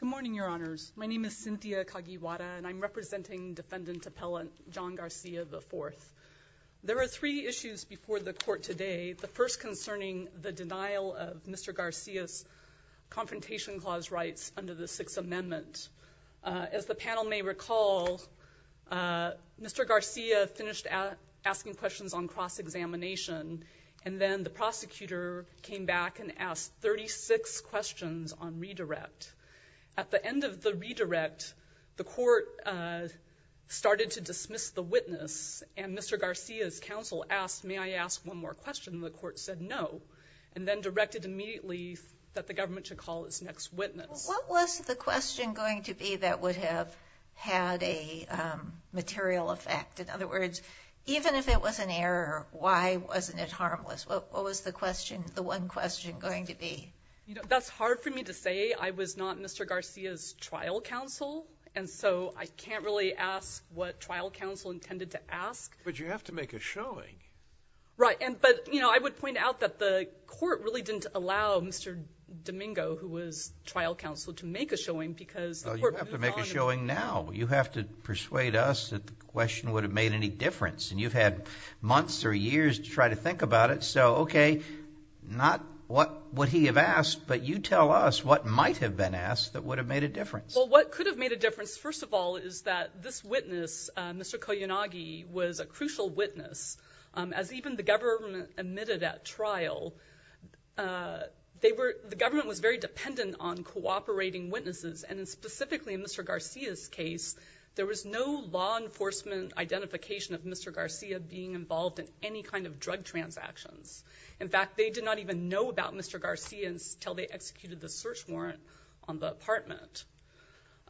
Good morning, Your Honors. My name is Cynthia Kagiwara, and I'm representing Defendant Appellant John Garcia, IV. There are three issues before the court today. The first concerning the denial of Mr. Garcia's Confrontation Clause rights under the Sixth Amendment. As the panel may recall, Mr. Garcia finished out asking questions on cross-examination, and then the prosecutor came back and asked 36 questions on redirect. At the end of the redirect, the court started to dismiss the witness, and Mr. Garcia's counsel asked, may I ask one more question? The court said no, and then directed immediately that the government should call its next witness. What was the question going to be that would have had a material effect? In other words, even if it was an error, why wasn't it harmless? What was the question, the one question going to be? You know, that's hard for me to say. I was not Mr. Garcia's trial counsel, and so I can't really ask what trial counsel intended to ask. But you have to make a showing. Right, and but, you know, I would point out that the court really didn't allow Mr. Domingo, who was trial counsel, to make a showing because... You have to make a showing now. You have to persuade us that the question would have made any difference, and you've had months or years to try to think about it. So, okay, not what would he have asked, but you tell us what might have been asked that would have made a difference. Well, what could have made a difference, first of all, is that this witness, Mr. Koyunagi, was a crucial witness. As even the government admitted at trial, they were, the government was very dependent on cooperating witnesses, and specifically in Mr. Garcia's case, there was no law enforcement identification of Mr. Garcia being involved in any kind of drug transactions. In fact, they did not even know about Mr. Garcia until they executed the search warrant on the apartment.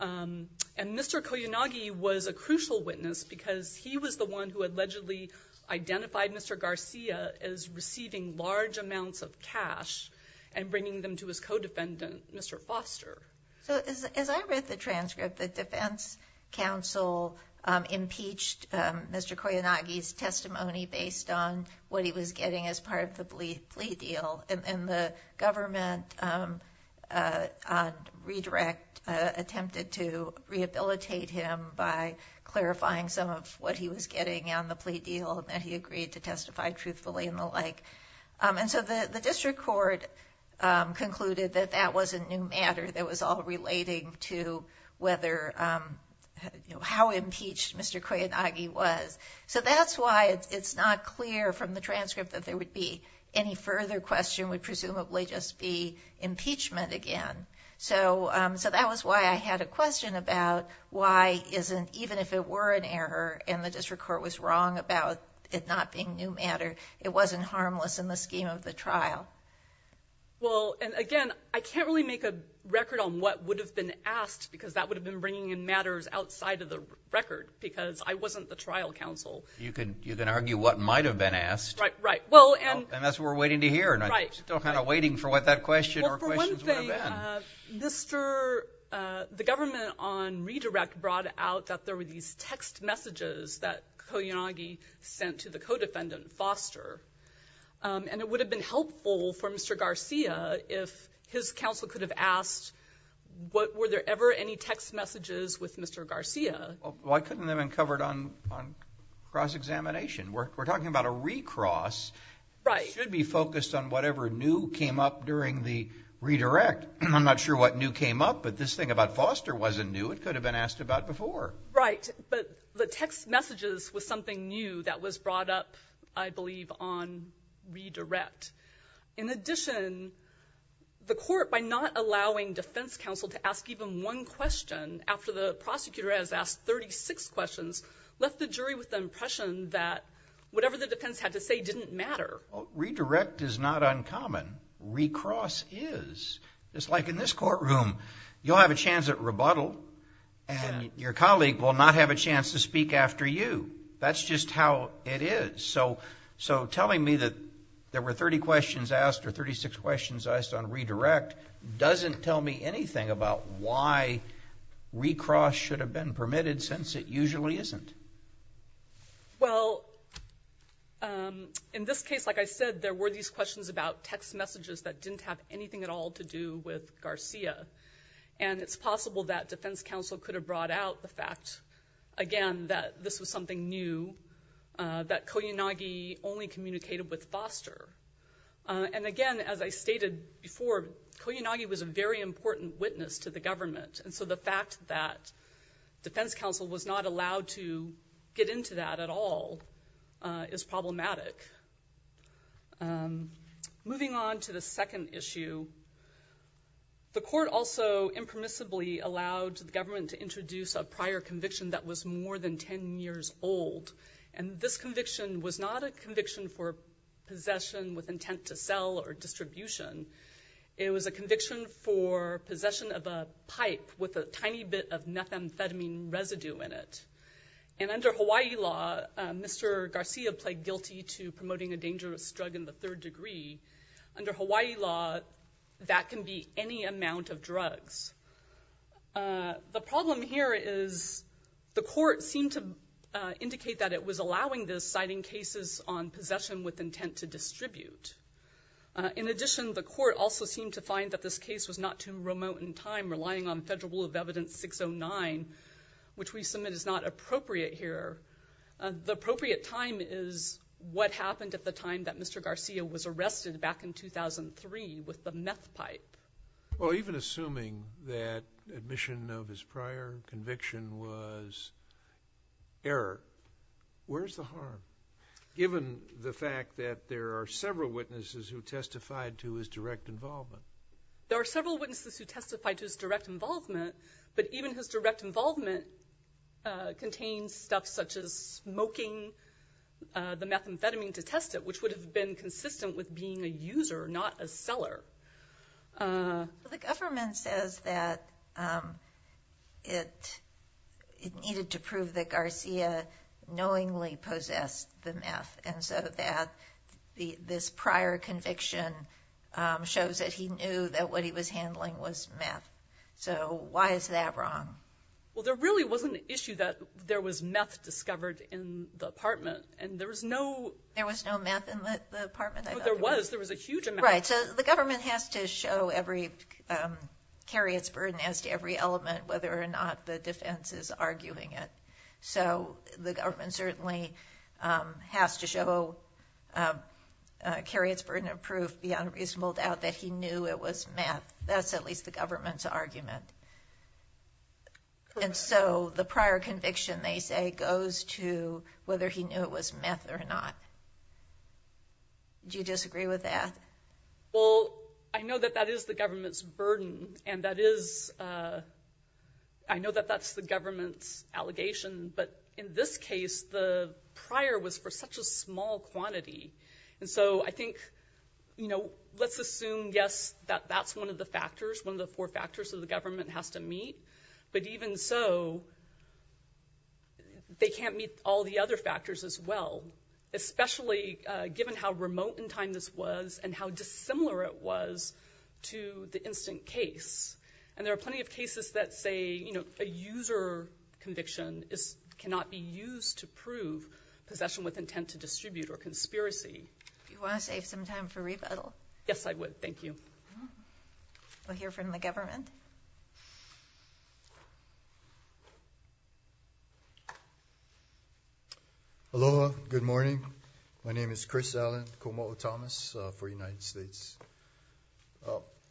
And Mr. Koyunagi was a crucial witness because he was the one who allegedly identified Mr. Garcia as receiving large amounts of cash and bringing them to his co-defendant, Mr. Foster. So, as I read the transcript, the Defense Council impeached Mr. Koyunagi's testimony based on what he was getting as part of the plea deal, and the government on redirect attempted to rehabilitate him by clarifying some of what he was getting on the plea deal, and that he agreed to testify truthfully and so the District Court concluded that that wasn't new matter, that was all relating to whether, how impeached Mr. Koyunagi was. So that's why it's not clear from the transcript that there would be any further question, would presumably just be impeachment again. So that was why I had a question about why isn't, even if it were an error and the District Court was wrong about it the trial. Well, and again, I can't really make a record on what would have been asked because that would have been bringing in matters outside of the record, because I wasn't the trial counsel. You can, you can argue what might have been asked. Right, right. Well, and that's what we're waiting to hear. Right. Still kind of waiting for what that question or questions would have been. Well, for one thing, Mr., the government on redirect brought out that there were these text messages that Koyunagi sent to the co-defendant, Foster, and it would have been helpful for Mr. Garcia if his counsel could have asked what, were there ever any text messages with Mr. Garcia? Well, why couldn't they have been covered on cross-examination? We're talking about a recross. Right. It should be focused on whatever new came up during the redirect. I'm not sure what new came up, but this thing about Foster wasn't new. It could have been asked about before. Right, but the text messages was something new that was brought up, I redirect. In addition, the court, by not allowing defense counsel to ask even one question after the prosecutor has asked 36 questions, left the jury with the impression that whatever the defense had to say didn't matter. Redirect is not uncommon. Recross is. It's like in this courtroom. You'll have a chance at rebuttal, and your colleague will not have a chance to speak after you. That's just how it is. So, so telling me that there were 30 questions asked or 36 questions asked on redirect doesn't tell me anything about why recross should have been permitted since it usually isn't. Well, in this case, like I said, there were these questions about text messages that didn't have anything at all to do with Garcia, and it's possible that defense counsel could have fact, again, that this was something new, that Koyanagi only communicated with Foster. And again, as I stated before, Koyanagi was a very important witness to the government, and so the fact that defense counsel was not allowed to get into that at all is problematic. Moving on to the second issue, the court also impermissibly allowed the government to introduce a prior conviction that was more than 10 years old, and this conviction was not a conviction for possession with intent to sell or distribution. It was a conviction for possession of a pipe with a tiny bit of methamphetamine residue in it. And under Hawaii law, Mr. Garcia pled guilty to promoting a dangerous drug in the third degree. Under Hawaii law, that can be any amount of drugs. The problem here is the court seemed to indicate that it was allowing this, citing cases on possession with intent to distribute. In addition, the court also seemed to find that this case was not too remote in time, relying on Federal Rule of Evidence 609, which we submit is not appropriate here. The appropriate time is what happened at the time that Mr. Garcia was arrested back in 2003 with the meth pipe. Well, even assuming that admission of his prior conviction was error, where's the harm, given the fact that there are several witnesses who testified to his direct involvement? There are several witnesses who testified to his direct involvement, but even his direct involvement contains stuff such as smoking the consistent with being a user, not a seller. The government says that it needed to prove that Garcia knowingly possessed the meth, and so that this prior conviction shows that he knew that what he was handling was meth. So why is that wrong? Well, there really wasn't an issue that there was meth discovered in the apartment, and there was no... There was no meth in the apartment? There was. There was a huge amount. Right. So the government has to show every, carry its burden as to every element, whether or not the defense is arguing it. So the government certainly has to show, carry its burden of proof beyond reasonable doubt that he knew it was meth. That's at least the government's argument. And so the prior conviction, they say, goes to whether he knew it was meth or not. Do you disagree with that? Well, I know that that is the government's burden, and that is, I know that that's the government's allegation, but in this case, the prior was for such a small quantity. And so I think, you know, let's assume, yes, that that's one of the factors, one of the four factors that the government has to prove. They can't meet all the other factors as well, especially given how remote in time this was and how dissimilar it was to the instant case. And there are plenty of cases that say, you know, a user conviction is, cannot be used to prove possession with intent to distribute or conspiracy. You want to save some time for rebuttal? Yes, I would. Thank you. We'll hear from the government. Aloha, good morning. My name is Chris Allen, Komo'o Thomas for United States.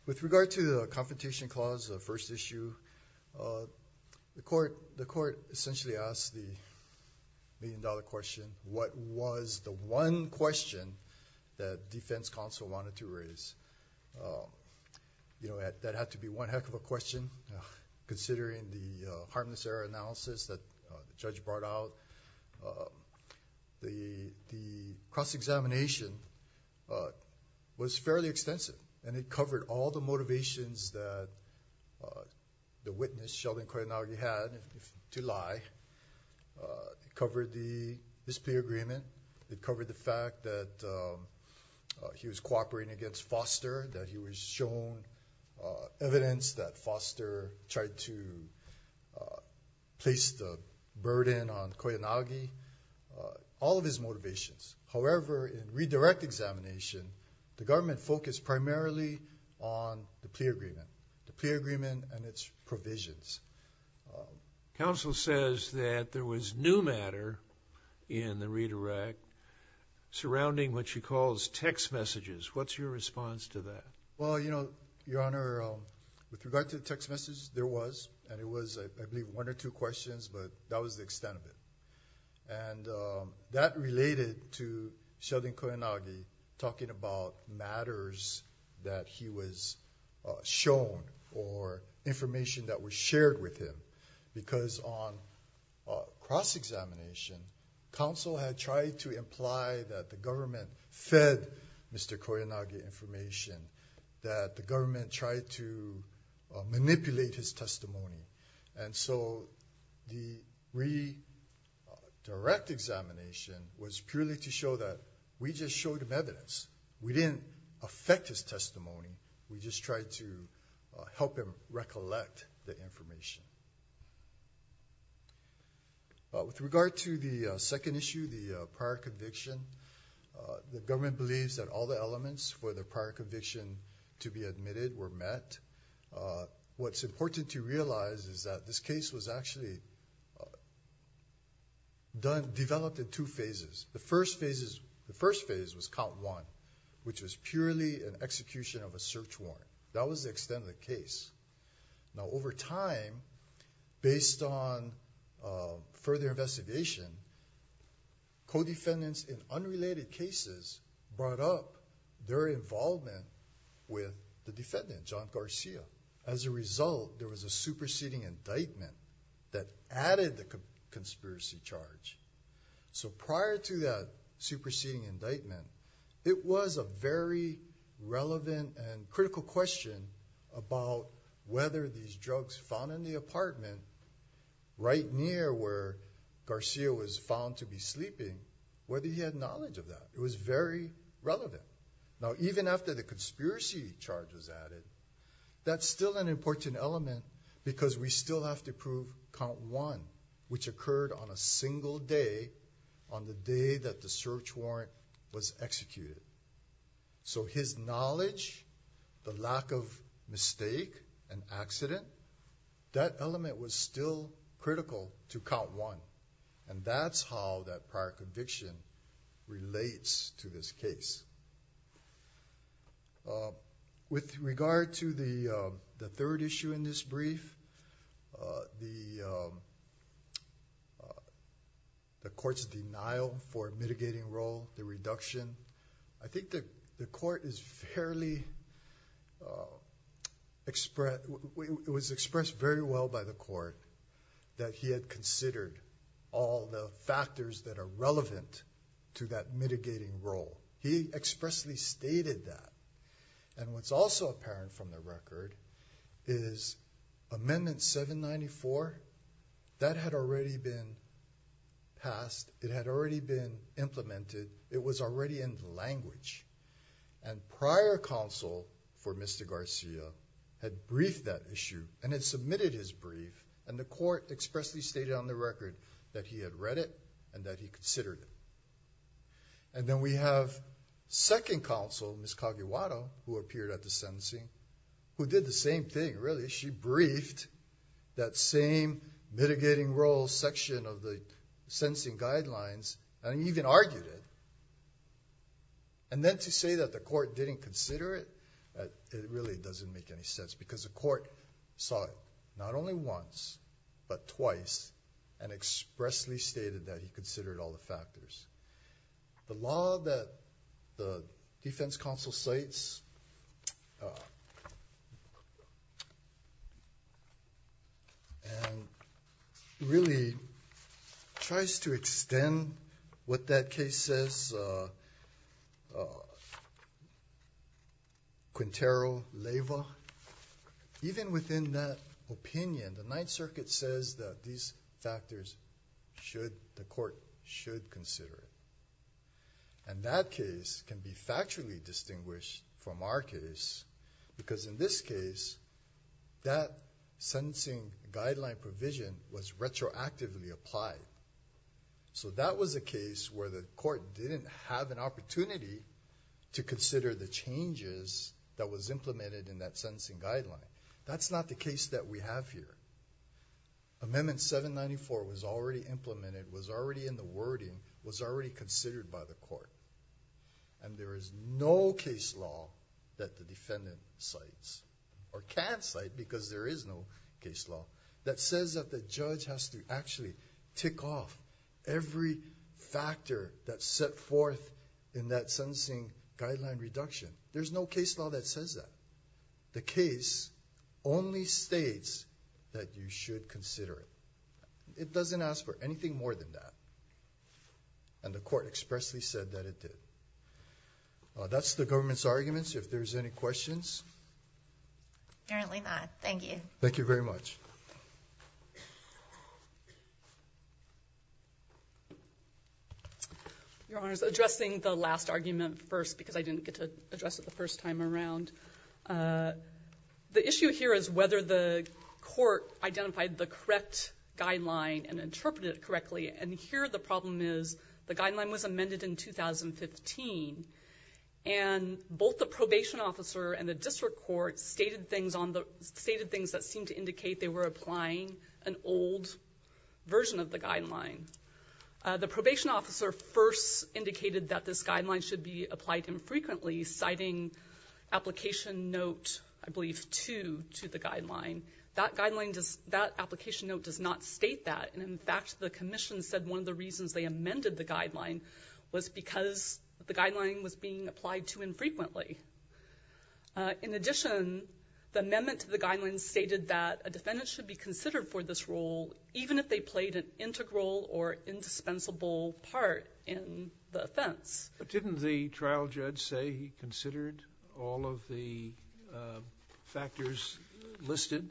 With regard to the Confrontation Clause, the first issue, the court, the court essentially asked the million-dollar question, what was the one question that Defense Counsel wanted to raise? You know, that had to be one heck of a question, considering the harmless error analysis that the judge brought out. The cross-examination was fairly extensive and it covered all the motivations that the witness, Sheldon Koyanagi, had to lie. It covered the dispute agreement. It covered the fact that he was cooperating against Foster, that he was shown evidence that Foster tried to place the burden on Koyanagi, all of his motivations. However, in redirect examination, the government focused primarily on the plea agreement, the plea agreement and its provisions. Counsel says that there was new matter in the redirect surrounding what she calls text messages. What's your response to that? Well, you know, Your Honor, with regard to the text message, there was and it was, I believe, one or two questions, but that was the extent of it. And that related to Sheldon Koyanagi talking about matters that he was shown or information that was shared with him, because on cross-examination, counsel had tried to imply that the government fed Mr. Koyanagi information, that the government tried to manipulate his testimony. And so the redirect examination was purely to show that we just showed him evidence. We didn't affect his testimony. We just tried to help him recollect the With regard to the second issue, the prior conviction, the government believes that all the elements for the prior conviction to be admitted were met. What's important to realize is that this case was actually developed in two phases. The first phase was count one, which was purely an execution of a search warrant. That was the extent of the case. Now over time, based on further investigation, co-defendants in unrelated cases brought up their involvement with the defendant, John Garcia. As a result, there was a superseding indictment that added the conspiracy charge. So prior to that superseding indictment, it was a very relevant and critical question about whether these drugs found in the apartment right near where Garcia was found to be sleeping, whether he had knowledge of that. It was very relevant. Now even after the conspiracy charge was added, that's still an important element because we still have to prove count one, which occurred on a single day on the day that the search warrant was executed. So his knowledge, the lack of mistake, an accident, that element was still critical to count one. And that's how that prior conviction relates to this case. With regard to the third issue in this brief, the court's denial for mitigating role, the reduction, I think the court is fairly expressed. It was expressed very well by the court that he had considered all the factors that are relevant to that mitigating role. He expressly stated that. And what's also apparent from the record is Amendment 794, that had already been passed. It had already been implemented. It was already in language. And prior counsel for Mr. Garcia had briefed that issue and had submitted his brief and the court expressly stated on the record that he had read it and that he considered it. And then we have second counsel, Ms. Kagiwara, who appeared at the sentencing, who did the same thing really. She briefed that same mitigating role section of the sentencing guidelines and even argued it. And then to say that the court didn't consider it, it really doesn't make any sense because the court saw it not only once but twice and expressly stated that he considered all the factors. The law that the Defense that case says, Quintero Leyva, even within that opinion, the Ninth Circuit says that these factors should, the court should consider it. And that case can be factually distinguished from our case because in this case that sentencing guideline provision was retroactively applied. So that was a case where the court didn't have an opportunity to consider the changes that was implemented in that sentencing guideline. That's not the case that we have here. Amendment 794 was already implemented, was already in the wording, was already considered by the court. And there is no case law that the defendant cites or can cite because there is no case law that says that the judge has to actually tick off every factor that's set forth in that sentencing guideline reduction. There's no case law that says that. The case only states that you should consider it. It doesn't ask for anything more than that. And the court expressly said that it did. That's the government's arguments. If there's any questions? Apparently not. Thank you. Thank you very much. Your Honor, addressing the last argument first because I didn't get to address it the first time around. The issue here is whether the court identified the correct guideline and interpreted it correctly. And here the problem is the guideline was amended in 2015. And both the probation officer and the district court stated things that seemed to indicate they were applying an old version of the guideline. The probation officer first indicated that this guideline should be applied infrequently, citing application note, I believe, 2, to the guideline. That application note does not state that. And in fact, the commission said one of the reasons they amended the guideline was because the In addition, the amendment to the guideline stated that a defendant should be considered for this role even if they played an integral or indispensable part in the offense. But didn't the trial judge say he considered all of the factors listed?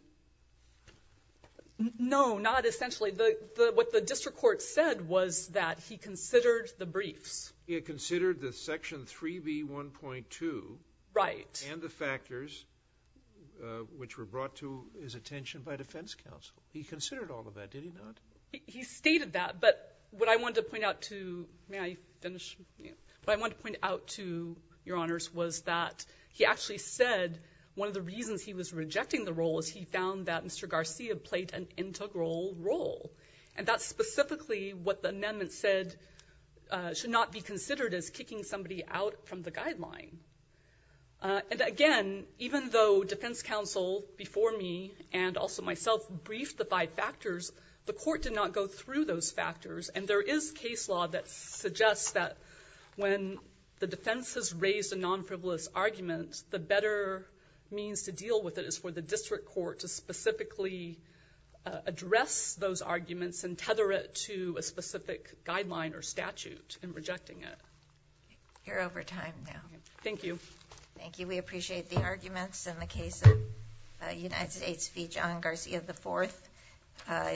No, not essentially. What the district court said was that he considered the briefs. He had considered the Section 3B1.2. Right. And the factors which were brought to his attention by defense counsel. He considered all of that, did he not? He stated that. But what I wanted to point out to your honors was that he actually said one of the reasons he was rejecting the role is he found that Mr. Garcia played an integral role. And that's specifically what the amendment said should not be considered as kicking somebody out from the guideline. And again, even though defense counsel before me and also myself briefed the five factors, the court did not go through those factors. And there is case law that suggests that when the defense has raised a non-frivolous argument, the better means to deal with it is for the district court to specifically address those arguments and tether it to a specific guideline or statute in rejecting it. You're over time now. Thank you. Thank you. We appreciate the arguments in the case of United States v. John Garcia IV.